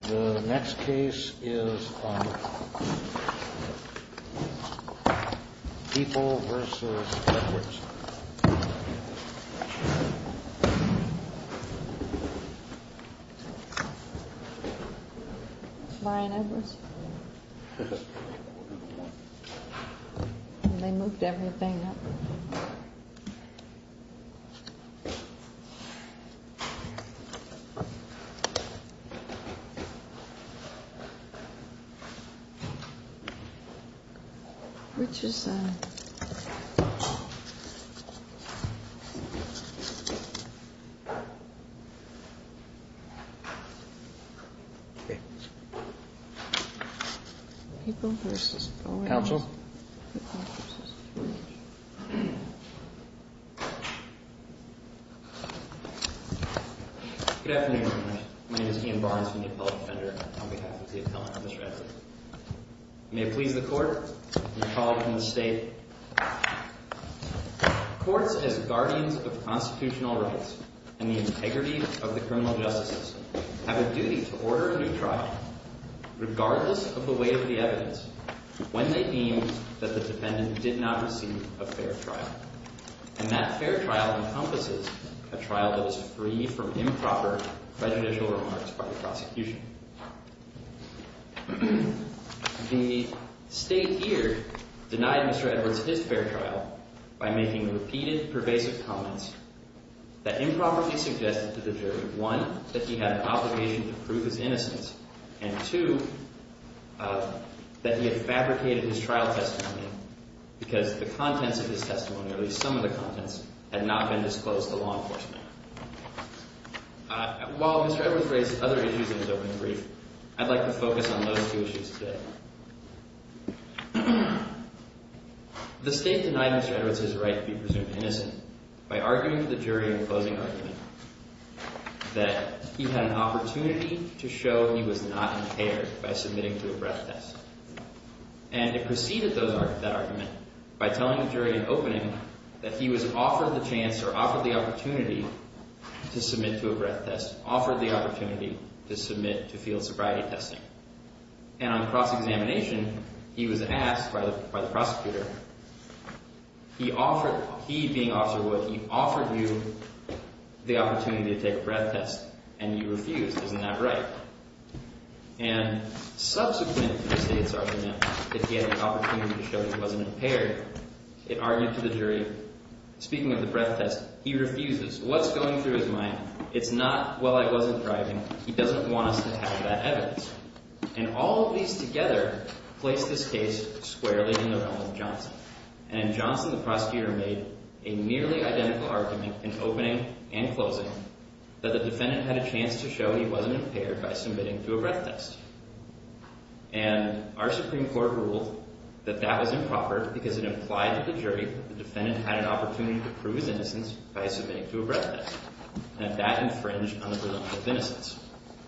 The next case is People v. Edwards They moved everything up. Which is People v. Boren People v. Boren Good afternoon. My name is Ian Barnes from the Appellate Defender on behalf of the appellant on this record. May it please the court, and the colleague from the state. Courts, as guardians of constitutional rights and the integrity of the criminal justice system, have a duty to order a new trial, regardless of the weight of the evidence, when they deem that the defendant did not receive a fair trial. And that fair trial encompasses a trial that is free from improper prejudicial remarks by the prosecution. The state here denied Mr. Edwards his fair trial by making repeated pervasive comments that improperly suggested to the jury, one, that he had an obligation to prove his innocence, and two, that he had fabricated his trial testimony because the contents of his testimony, or at least some of the contents, had not been disclosed to law enforcement. While Mr. Edwards raised other issues in his opening brief, I'd like to focus on those two issues today. The state denied Mr. Edwards his right to be presumed innocent by arguing to the jury in the closing argument that he had an opportunity to show he was not impaired by submitting to a breath test. And it preceded that argument by telling the jury in opening that he was offered the chance or offered the opportunity to submit to a breath test, offered the opportunity to submit to field sobriety testing. And on cross-examination, he was asked by the prosecutor, he being Officer Wood, he offered you the opportunity to take a breath test, and you refused. Isn't that right? And subsequent to the state's argument that he had an opportunity to show he wasn't impaired, it argued to the jury, speaking of the breath test, he refuses. What's going through his mind? It's not, well, I wasn't driving. He doesn't want us to have that evidence. And all of these together place this case squarely in the realm of Johnson. And Johnson, the prosecutor, made a nearly identical argument in opening and closing that the defendant had a chance to show he wasn't impaired by submitting to a breath test. And our Supreme Court ruled that that was improper because it implied to the jury that the defendant had an opportunity to prove his innocence by submitting to a breath test. And that infringed on the presumption of innocence.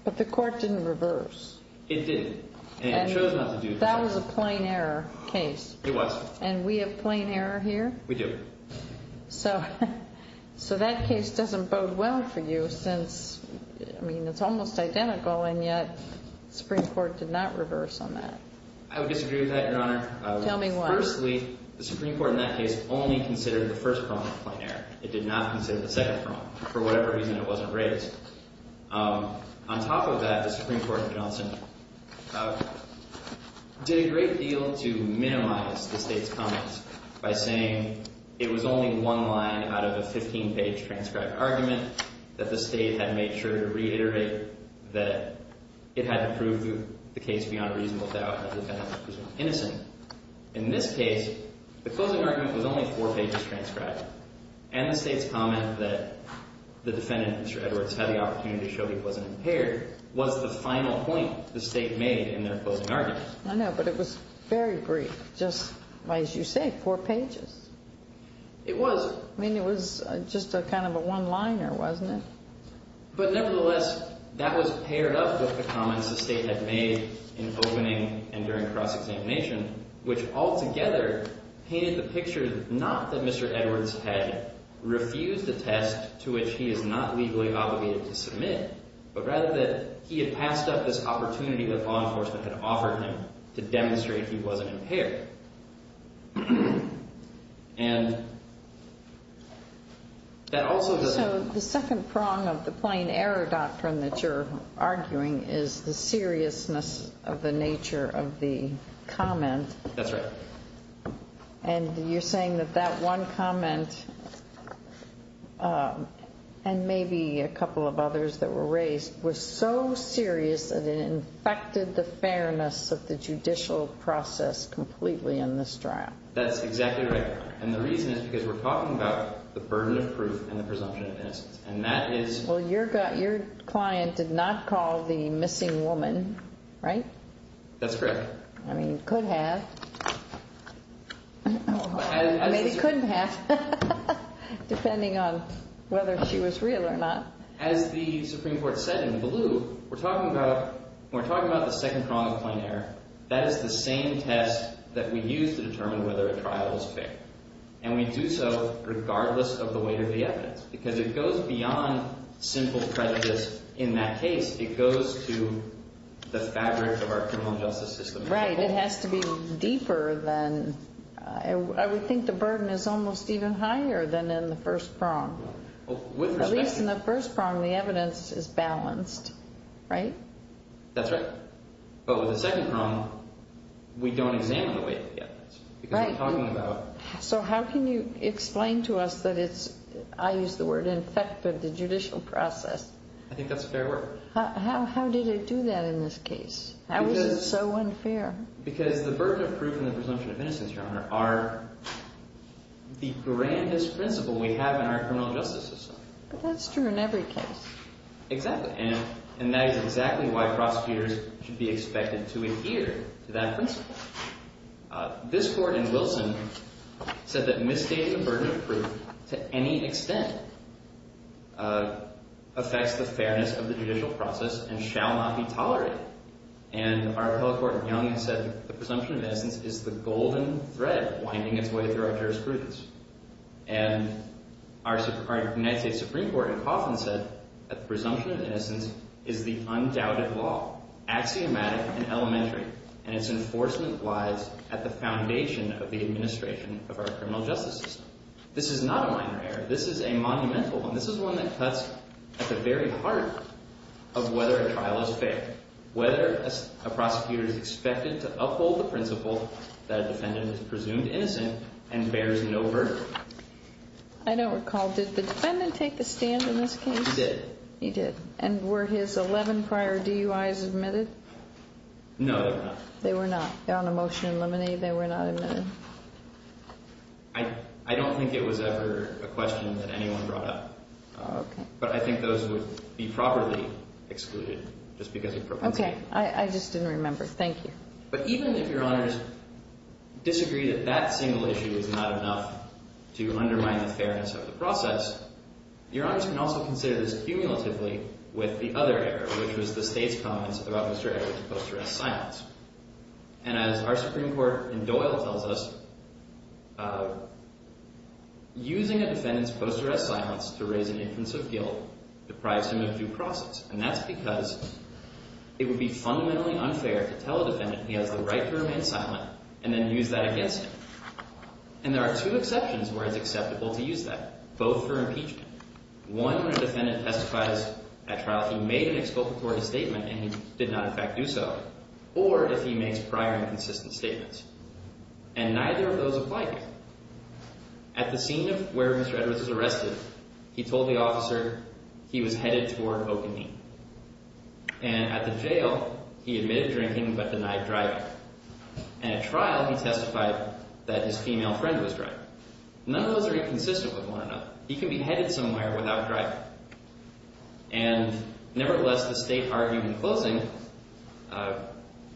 But the court didn't reverse. It didn't. And it chose not to do that. That was a plain error case. It was. And we have plain error here? We do. So that case doesn't bode well for you since, I mean, it's almost identical. And yet the Supreme Court did not reverse on that. I would disagree with that, Your Honor. Tell me why. Firstly, the Supreme Court in that case only considered the first crime of plain error. It did not consider the second crime for whatever reason it wasn't raised. On top of that, the Supreme Court in Johnson did a great deal to minimize the State's comments by saying it was only one line out of a 15-page transcribed argument that the State had made sure to reiterate that it had to prove the case beyond a reasonable doubt that the defendant was innocent. In this case, the closing argument was only four pages transcribed. And the State's comment that the defendant, Mr. Edwards, had the opportunity to show he wasn't impaired was the final point the State made in their closing argument. I know, but it was very brief. Just, as you say, four pages. It was. I mean, it was just kind of a one-liner, wasn't it? But nevertheless, that was paired up with the comments the State had made in opening and during cross-examination, which altogether painted the picture not that Mr. Edwards had refused a test to which he is not legally obligated to submit, but rather that he had passed up this opportunity that law enforcement had offered him to demonstrate he wasn't impaired. And that also doesn't... So the second prong of the plain error doctrine that you're arguing is the seriousness of the nature of the comment. That's right. And you're saying that that one comment, and maybe a couple of others that were raised, was so serious that it infected the fairness of the judicial process completely in this trial. That's exactly right. And the reason is because we're talking about the burden of proof and the presumption of innocence. And that is... Well, your client did not call the missing woman, right? That's correct. I mean, could have. Or maybe couldn't have, depending on whether she was real or not. As the Supreme Court said in blue, we're talking about the second prong of the plain error. That is the same test that we use to determine whether a trial is fair. And we do so regardless of the weight of the evidence, because it goes beyond simple prejudice in that case. It goes to the fabric of our criminal justice system. Right. It has to be deeper than... I would think the burden is almost even higher than in the first prong. At least in the first prong, the evidence is balanced, right? That's right. So how can you explain to us that it's, I use the word infected, the judicial process? I think that's fair work. How did it do that in this case? How is it so unfair? Because the burden of proof and the presumption of innocence, Your Honor, are the grandest principle we have in our criminal justice system. But that's true in every case. Exactly. And that is exactly why prosecutors should be expected to adhere to that principle. This court in Wilson said that misdating the burden of proof to any extent affects the fairness of the judicial process and shall not be tolerated. And our appellate court in Young has said the presumption of innocence is the golden thread winding its way through our jurisprudence. And our United States Supreme Court in Coffin said that the presumption of innocence is the undoubted law, axiomatic and elementary. And its enforcement lies at the foundation of the administration of our criminal justice system. This is not a minor error. This is a monumental one. This is one that cuts at the very heart of whether a trial is fair, whether a prosecutor is expected to uphold the principle that a defendant is presumed innocent and bears no verdict. I don't recall. Did the defendant take the stand in this case? He did. He did. And were his 11 prior DUIs admitted? No, they were not. They were not. They're on a motion to eliminate. They were not admitted. I don't think it was ever a question that anyone brought up. Okay. But I think those would be properly excluded just because of propensity. Okay. I just didn't remember. Thank you. But even if Your Honors disagree that that single issue is not enough to undermine the fairness of the process, Your Honors can also consider this cumulatively with the other error, which was the State's comments about Mr. Ayer's post-arrest silence. And as our Supreme Court in Doyle tells us, using a defendant's post-arrest silence to raise an inference of guilt deprives him of due process. And that's because it would be fundamentally unfair to tell a defendant he has the right to remain silent and then use that against him. And there are two exceptions where it's acceptable to use that, both for impeachment. One, when a defendant testifies at trial, he made an exploitatory statement and he did not, in fact, do so. Or if he makes prior inconsistent statements. And neither of those apply here. At the scene of where Mr. Edwards was arrested, he told the officer he was headed toward Oak and Mead. And at the jail, he admitted drinking but denied driving. And at trial, he testified that his female friend was driving. None of those are inconsistent with one another. He can be headed somewhere without driving. And nevertheless, the State argued in closing,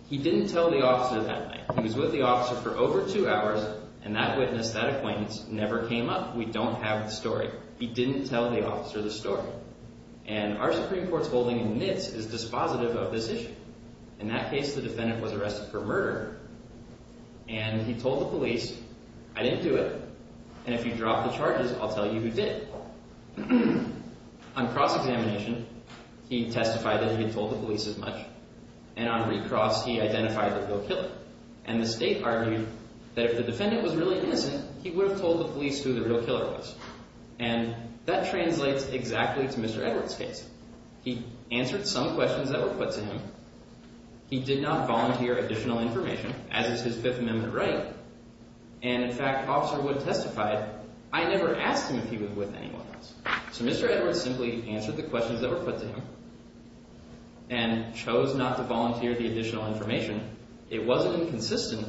he didn't tell the officer that night. He was with the officer for over two hours, and that witness, that acquaintance, never came up. We don't have the story. He didn't tell the officer the story. And our Supreme Court's holding admits is dispositive of this issue. In that case, the defendant was arrested for murder. And he told the police, I didn't do it. And if you drop the charges, I'll tell you who did. On cross-examination, he testified that he had told the police as much. And on recross, he identified the real killer. And the State argued that if the defendant was really innocent, he would have told the police who the real killer was. And that translates exactly to Mr. Edwards' case. He answered some questions that were put to him. He did not volunteer additional information, as is his Fifth Amendment right. And, in fact, Officer Wood testified, I never asked him if he was with anyone else. So Mr. Edwards simply answered the questions that were put to him and chose not to volunteer the additional information. It wasn't inconsistent.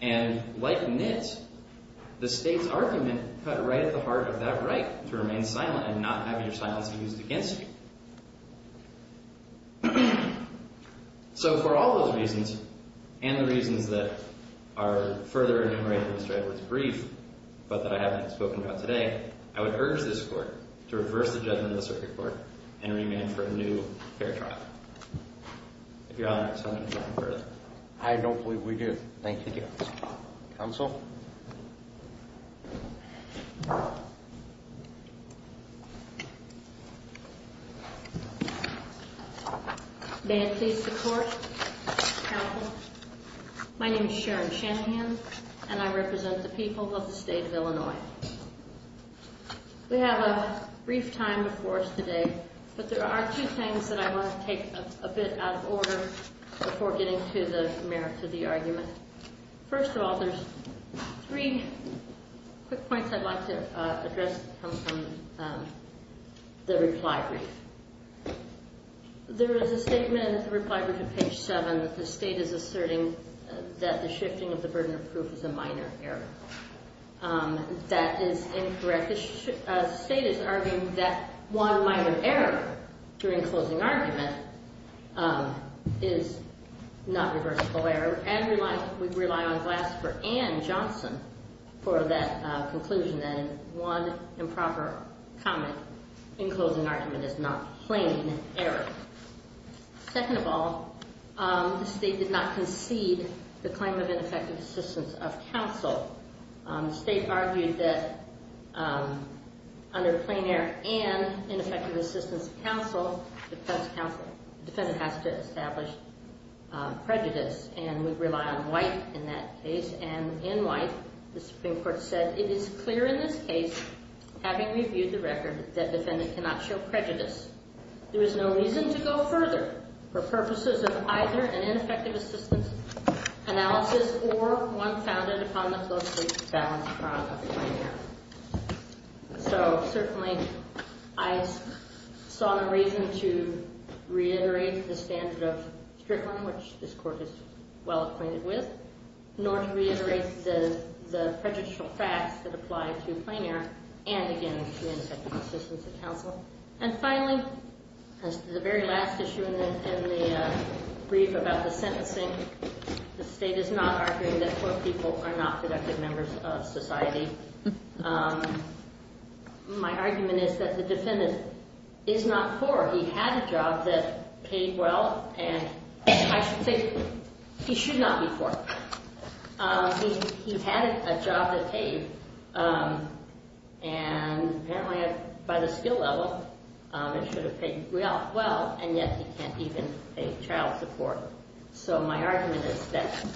And like Nitt, the State's argument cut right at the heart of that right to remain silent and not have your silence used against you. So for all those reasons, and the reasons that are further enumerated in Mr. Edwards' brief, but that I haven't spoken about today, I would urge this Court to reverse the judgment of the Circuit Court and remand for a new fair trial. If Your Honor is willing to go further. I don't believe we do. Thank you, Your Honor. Counsel? May it please the Court, Counsel. My name is Sharon Shanahan, and I represent the people of the State of Illinois. We have a brief time before us today. But there are two things that I want to take a bit out of order before getting to the merits of the argument. First of all, there's three quick points I'd like to address that come from the reply brief. There is a statement in the reply brief at page 7 that the State is asserting that the shifting of the burden of proof is a minor error. That is incorrect. The State is arguing that one minor error during closing argument is not reversible error. And we rely on Glasper and Johnson for that conclusion. And one improper comment in closing argument is not plain error. Second of all, the State did not concede the claim of ineffective assistance of counsel. The State argued that under plain error and ineffective assistance of counsel, the defendant has to establish prejudice. And we rely on White in that case. And in White, the Supreme Court said, It is clear in this case, having reviewed the record, that defendant cannot show prejudice. There is no reason to go further for purposes of either an ineffective assistance analysis or one founded upon the closely balanced problem of plain error. So, certainly, I saw no reason to reiterate the standard of Strickland, which this Court is well acquainted with, nor to reiterate the prejudicial facts that apply to plain error and, again, to ineffective assistance of counsel. And finally, the very last issue in the brief about the sentencing, the State is not arguing that poor people are not productive members of society. My argument is that the defendant is not poor. He had a job that paid well, and I think he should not be poor. He had a job that paid. And apparently, by the skill level, it should have paid well, and yet he can't even pay child support. So my argument is that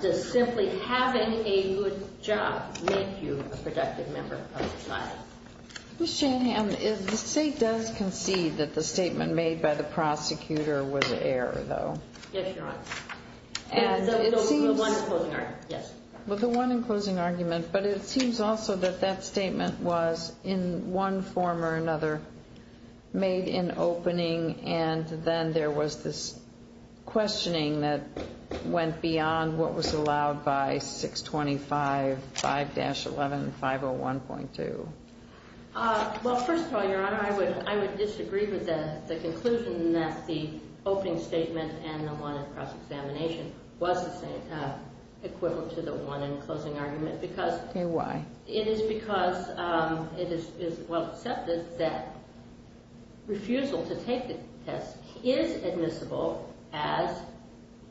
does simply having a good job make you a productive member of society? Ms. Shanahan, the State does concede that the statement made by the prosecutor was error, though. Yes, Your Honor. And it seems... The one in closing argument, yes. It seems also that that statement was, in one form or another, made in opening, and then there was this questioning that went beyond what was allowed by 625, 5-11, 501.2. Well, first of all, Your Honor, I would disagree with the conclusion that the opening statement and the one in cross-examination was equivalent to the one in closing argument because... Okay, why? It is because it is well accepted that refusal to take the test is admissible as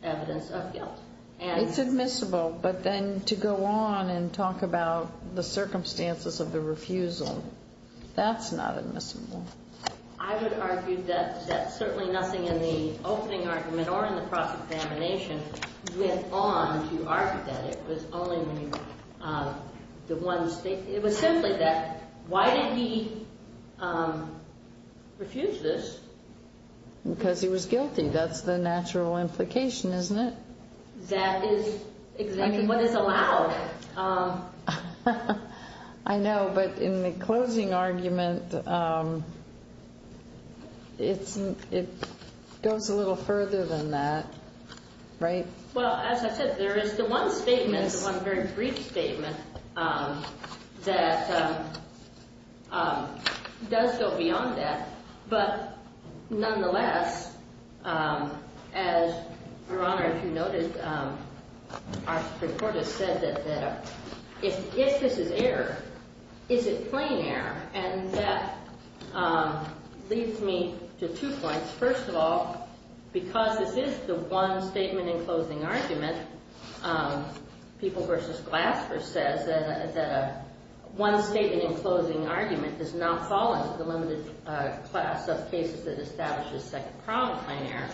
evidence of guilt. It's admissible, but then to go on and talk about the circumstances of the refusal, that's not admissible. I would argue that certainly nothing in the opening argument or in the cross-examination went on to argue that. It was simply that, why did he refuse this? Because he was guilty. That's the natural implication, isn't it? That is exactly what is allowed. I know, but in the closing argument, it goes a little further than that. Right. Well, as I said, there is the one statement, the one very brief statement that does go beyond that, but nonetheless, as Your Honor, if you noticed, our Supreme Court has said that if this is error, is it plain error? And that leads me to two points. First of all, because this is the one statement in closing argument, People v. Glasper says that one statement in closing argument does not fall into the limited class of cases that establishes second-pronged plain error.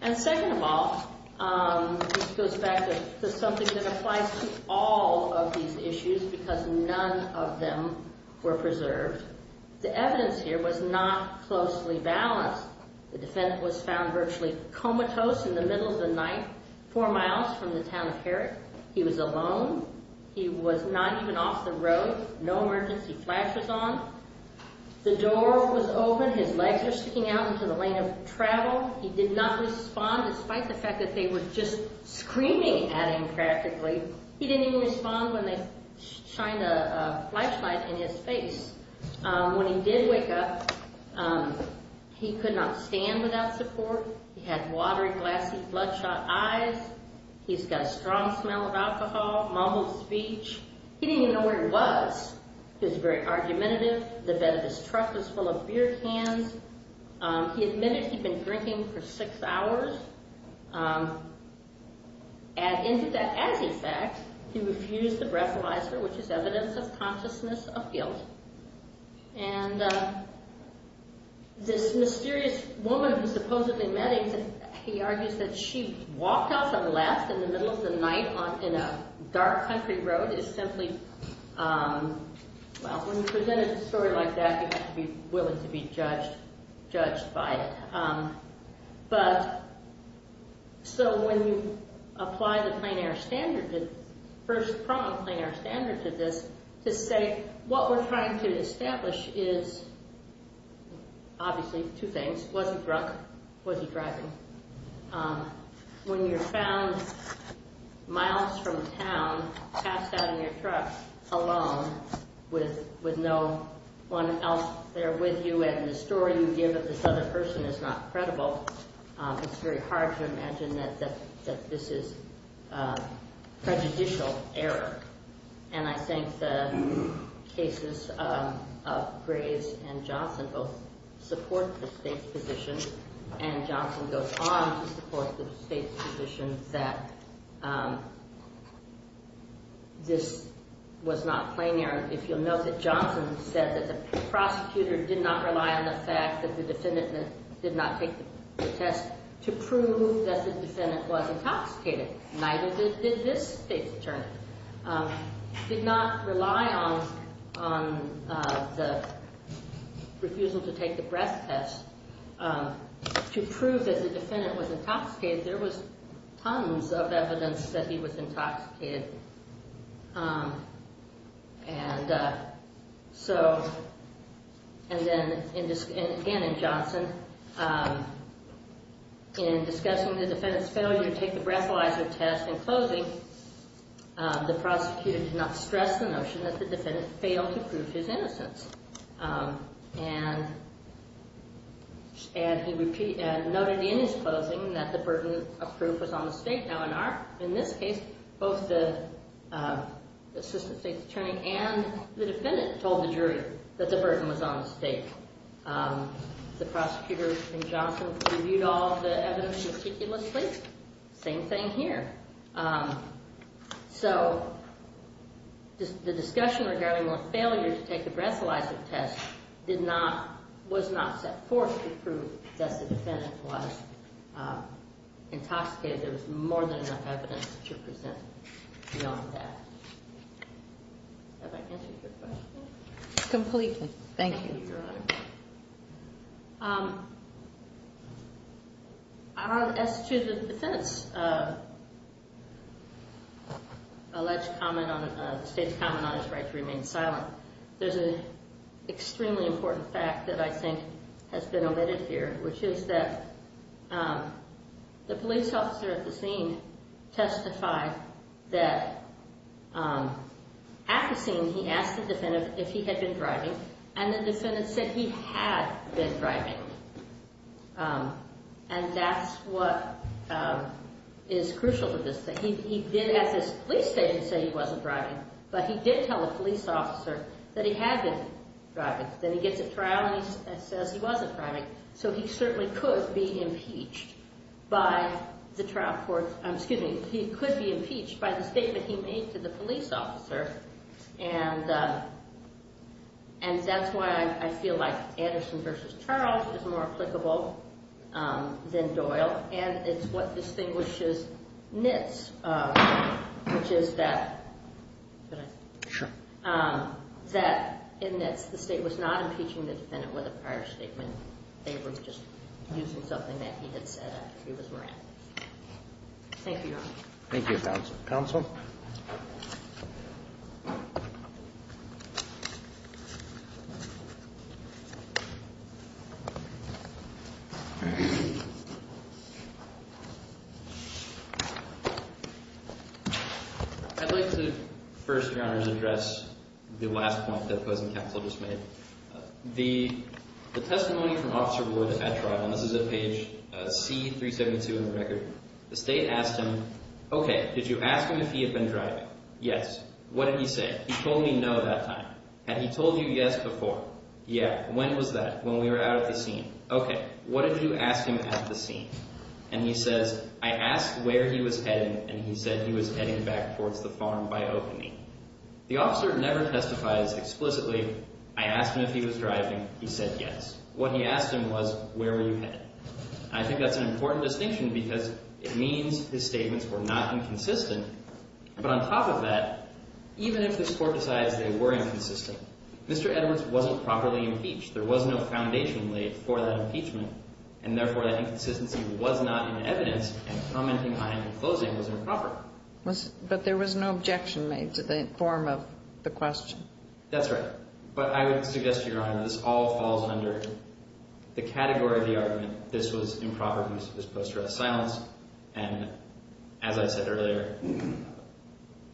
And second of all, this goes back to something that applies to all of these issues because none of them were preserved. The evidence here was not closely balanced. The defendant was found virtually comatose in the middle of the night, four miles from the town of Herrick. He was alone. He was not even off the road. No emergency flashes on. The door was open. His legs were sticking out into the lane of travel. He did not respond, despite the fact that they were just screaming at him practically. He didn't even respond when they shined a flashlight in his face. When he did wake up, he could not stand without support. He had watery, glassy, bloodshot eyes. He's got a strong smell of alcohol, mumbled speech. He didn't even know where he was. He was very argumentative. The bed of his truck was full of beer cans. He admitted he'd been drinking for six hours. As a fact, he refused the breathalyzer, which is evidence of consciousness of guilt. This mysterious woman who supposedly met him, he argues that she walked out from the left in the middle of the night in a dark country road. When you present a story like that, you have to be willing to be judged by it. So when you apply the first prong of plain air standard to this, to say what we're trying to establish is obviously two things. Was he drunk? Was he driving? When you're found miles from town, passed out in your truck alone with no one else there with you, when the story you give of this other person is not credible, it's very hard to imagine that this is prejudicial error. And I think the cases of Graves and Johnson both support the state's position, and Johnson goes on to support the state's position that this was not plain air. If you'll note that Johnson said that the prosecutor did not rely on the fact that the defendant did not take the test to prove that the defendant was intoxicated. Neither did this state's attorney. Did not rely on the refusal to take the breath test to prove that the defendant was intoxicated. There was tons of evidence that he was intoxicated. And so, and again in Johnson, in discussing the defendant's failure to take the breathalyzer test in closing, the prosecutor did not stress the notion that the defendant failed to prove his innocence. And he noted in his closing that the burden of proof was on the state. Now, in this case, both the assistant state's attorney and the defendant told the jury that the burden was on the state. The prosecutor in Johnson reviewed all the evidence meticulously. Same thing here. So, the discussion regarding the failure to take the breathalyzer test was not set forth to prove that the defendant was intoxicated. There was more than enough evidence to present beyond that. Have I answered your question? Completely. Thank you, Your Honor. As to the defense, the state's comment on his right to remain silent, there's an extremely important fact that I think has been omitted here, which is that the police officer at the scene testified that at the scene he asked the defendant if he had been driving, and the defendant said he had been driving. And that's what is crucial to this thing. He did at his police station say he wasn't driving, but he did tell the police officer that he had been driving. Then he gets a trial and he says he wasn't driving. So he certainly could be impeached by the trial court. Excuse me. He could be impeached by the statement he made to the police officer, and that's why I feel like Anderson v. Charles is more applicable than Doyle, and it's what distinguishes NITS, which is that in NITS the state was not impeaching the defendant with a prior statement. They were just using something that he had said after he was murdered. Thank you, Your Honor. Thank you, counsel. I'd like to first, Your Honor, address the last point that Posen Counsel just made. The testimony from Officer Ward at trial, and this is at page C-372 in the record, the state asked him, okay, did you ask him if he had been driving? Yes. What did he say? He told me no that time. Had he told you yes before? Yeah. When was that? When we were out at the scene. Okay. What did you ask him at the scene? And he says, I asked where he was heading, and he said he was heading back towards the farm by opening. The officer never testifies explicitly, I asked him if he was driving, he said yes. What he asked him was, where were you heading? I think that's an important distinction because it means his statements were not inconsistent, but on top of that, even if the court decides they were inconsistent, Mr. Edwards wasn't properly impeached. There was no foundation laid for that impeachment, and therefore that inconsistency was not in evidence, and commenting on him in closing was improper. But there was no objection made to the form of the question. That's right. But I would suggest, Your Honor, this all falls under the category of the argument, this was improper use of this post-dress silence, and as I said earlier,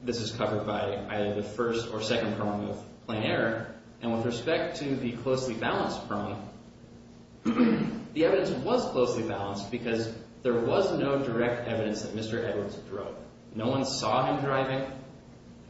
this is covered by either the first or second prong of plain error, and with respect to the closely balanced prong, the evidence was closely balanced because there was no direct evidence that Mr. Edwards drove. No one saw him driving,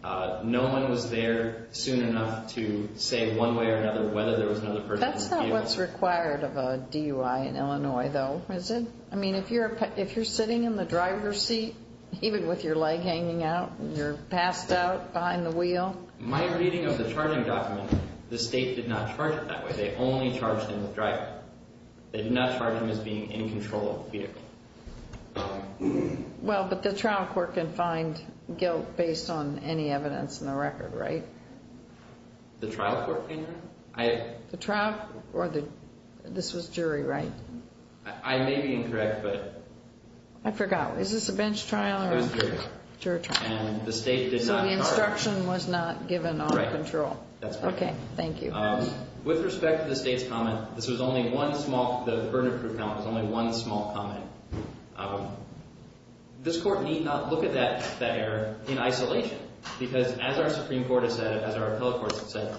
no one was there soon enough to say one way or another whether there was another person in the vehicle. That's not what's required of a DUI in Illinois, though, is it? I mean, if you're sitting in the driver's seat, even with your leg hanging out, you're passed out behind the wheel. My reading of the charging document, the state did not charge it that way. They only charged him with driving. They did not charge him as being in control of the vehicle. Well, but the trial court can find guilt based on any evidence in the record, right? The trial court can, Your Honor? The trial, or this was jury, right? I may be incorrect, but... I forgot. Is this a bench trial or a jury trial? It was jury trial. And the state did not charge... So the instruction was not given on control. Right. That's correct. Okay. Thank you. With respect to the state's comment, this was only one small... The burden of proof comment was only one small comment. This court need not look at that error in isolation because as our Supreme Court has said, as our appellate courts have said,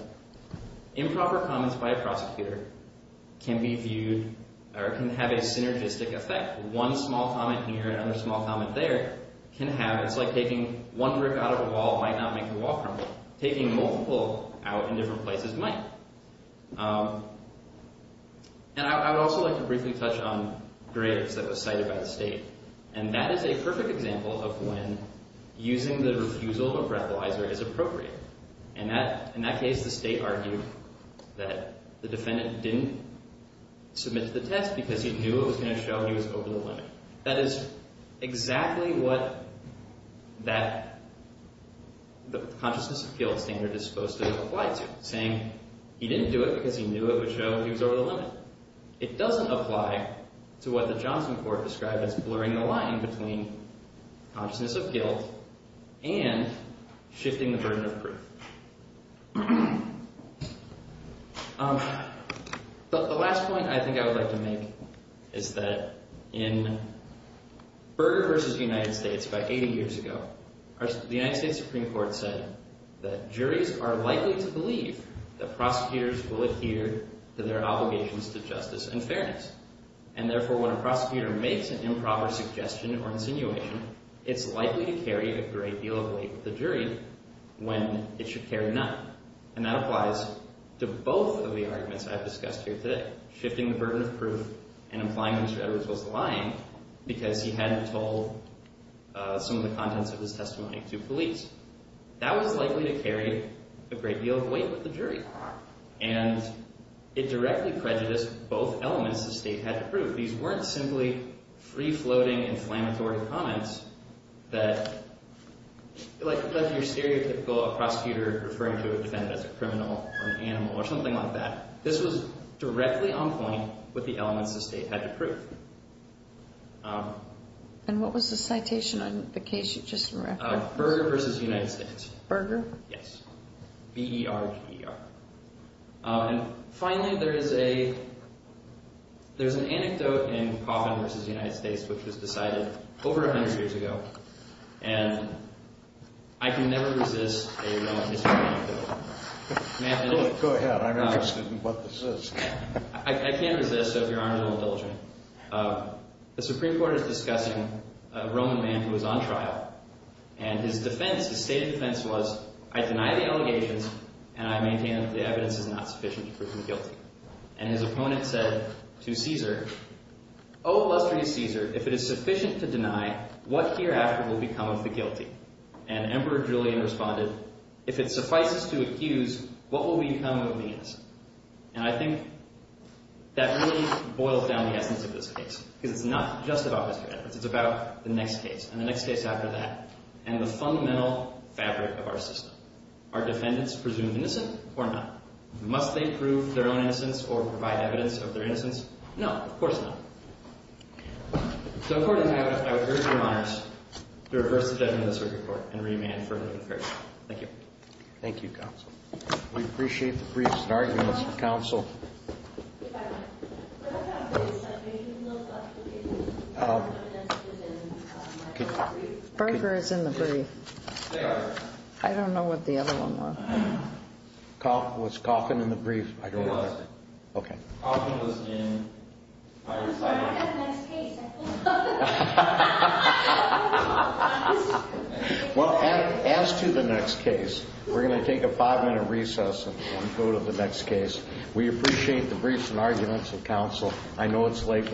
improper comments by a prosecutor can be viewed or can have a synergistic effect. One small comment here, another small comment there, can have... It's like taking one brick out of a wall might not make the wall permanent. It's like taking multiple out in different places might. And I would also like to briefly touch on Graves that was cited by the state. And that is a perfect example of when using the refusal or parabolizer is appropriate. In that case, the state argued that the defendant didn't submit to the test because he knew it was going to show he was over the limit. That is exactly what the consciousness of guilt standard is supposed to apply to, saying he didn't do it because he knew it would show he was over the limit. It doesn't apply to what the Johnson court described as blurring the line between consciousness of guilt and shifting the burden of proof. The last point I think I would like to make is that in Berger v. United States about 80 years ago, the United States Supreme Court said that juries are likely to believe that prosecutors will adhere to their obligations to justice and fairness. And therefore, when a prosecutor makes an improper suggestion or insinuation, it's likely to carry a great deal of weight with the jury when it should carry none. And that applies to both of the arguments I've discussed here today, shifting the burden of proof and implying Mr. Edwards was lying because he hadn't told some of the contents of his testimony to police. That was likely to carry a great deal of weight with the jury. And it directly prejudiced both elements the state had to prove. These weren't simply free-floating, inflammatory comments that left you stereotypical of a prosecutor referring to a defendant as a criminal or an animal or something like that. This was directly on point with the elements the state had to prove. And what was the citation on the case you just referred to? Berger v. United States. Berger? Yes. B-E-R-G-E-R. And finally, there's an anecdote in Coffin v. United States which was decided over 100 years ago. And I can never resist a Roman history anecdote. Go ahead. I'm interested in what this is. I can't resist, so if Your Honor, no indulgence. The Supreme Court is discussing a Roman man who was on trial. And his defense, his stated defense was, I deny the allegations and I maintain that the evidence is not sufficient to prove him guilty. And his opponent said to Caesar, O illustrious Caesar, if it is sufficient to deny, what hereafter will become of the guilty? And Emperor Julian responded, If it suffices to accuse, what will become of the innocent? And I think that really boils down the essence of this case. Because it's not just about Mr. Edwards. It's about the next case, and the next case after that, and the fundamental fabric of our system. Are defendants presumed innocent or not? Must they prove their own innocence or provide evidence of their innocence? No, of course not. So according to that, I would urge Your Honors to reverse the judgment of the Supreme Court and remand for a limited period. Thank you. Thank you, Counsel. We appreciate the briefs and arguments. Counsel? If I may. When I got briefed, I made a little clarification. What evidence was in my brief? Berger is in the brief. Yes. I don't know what the other one was. Was Coffin in the brief? He was. Okay. Coffin was in my recital. I'm sorry, I've got the next case. I forgot. Well, as to the next case, we're going to take a five-minute recess and go to the next case. We appreciate the briefs and arguments, and Counsel, I know it's late.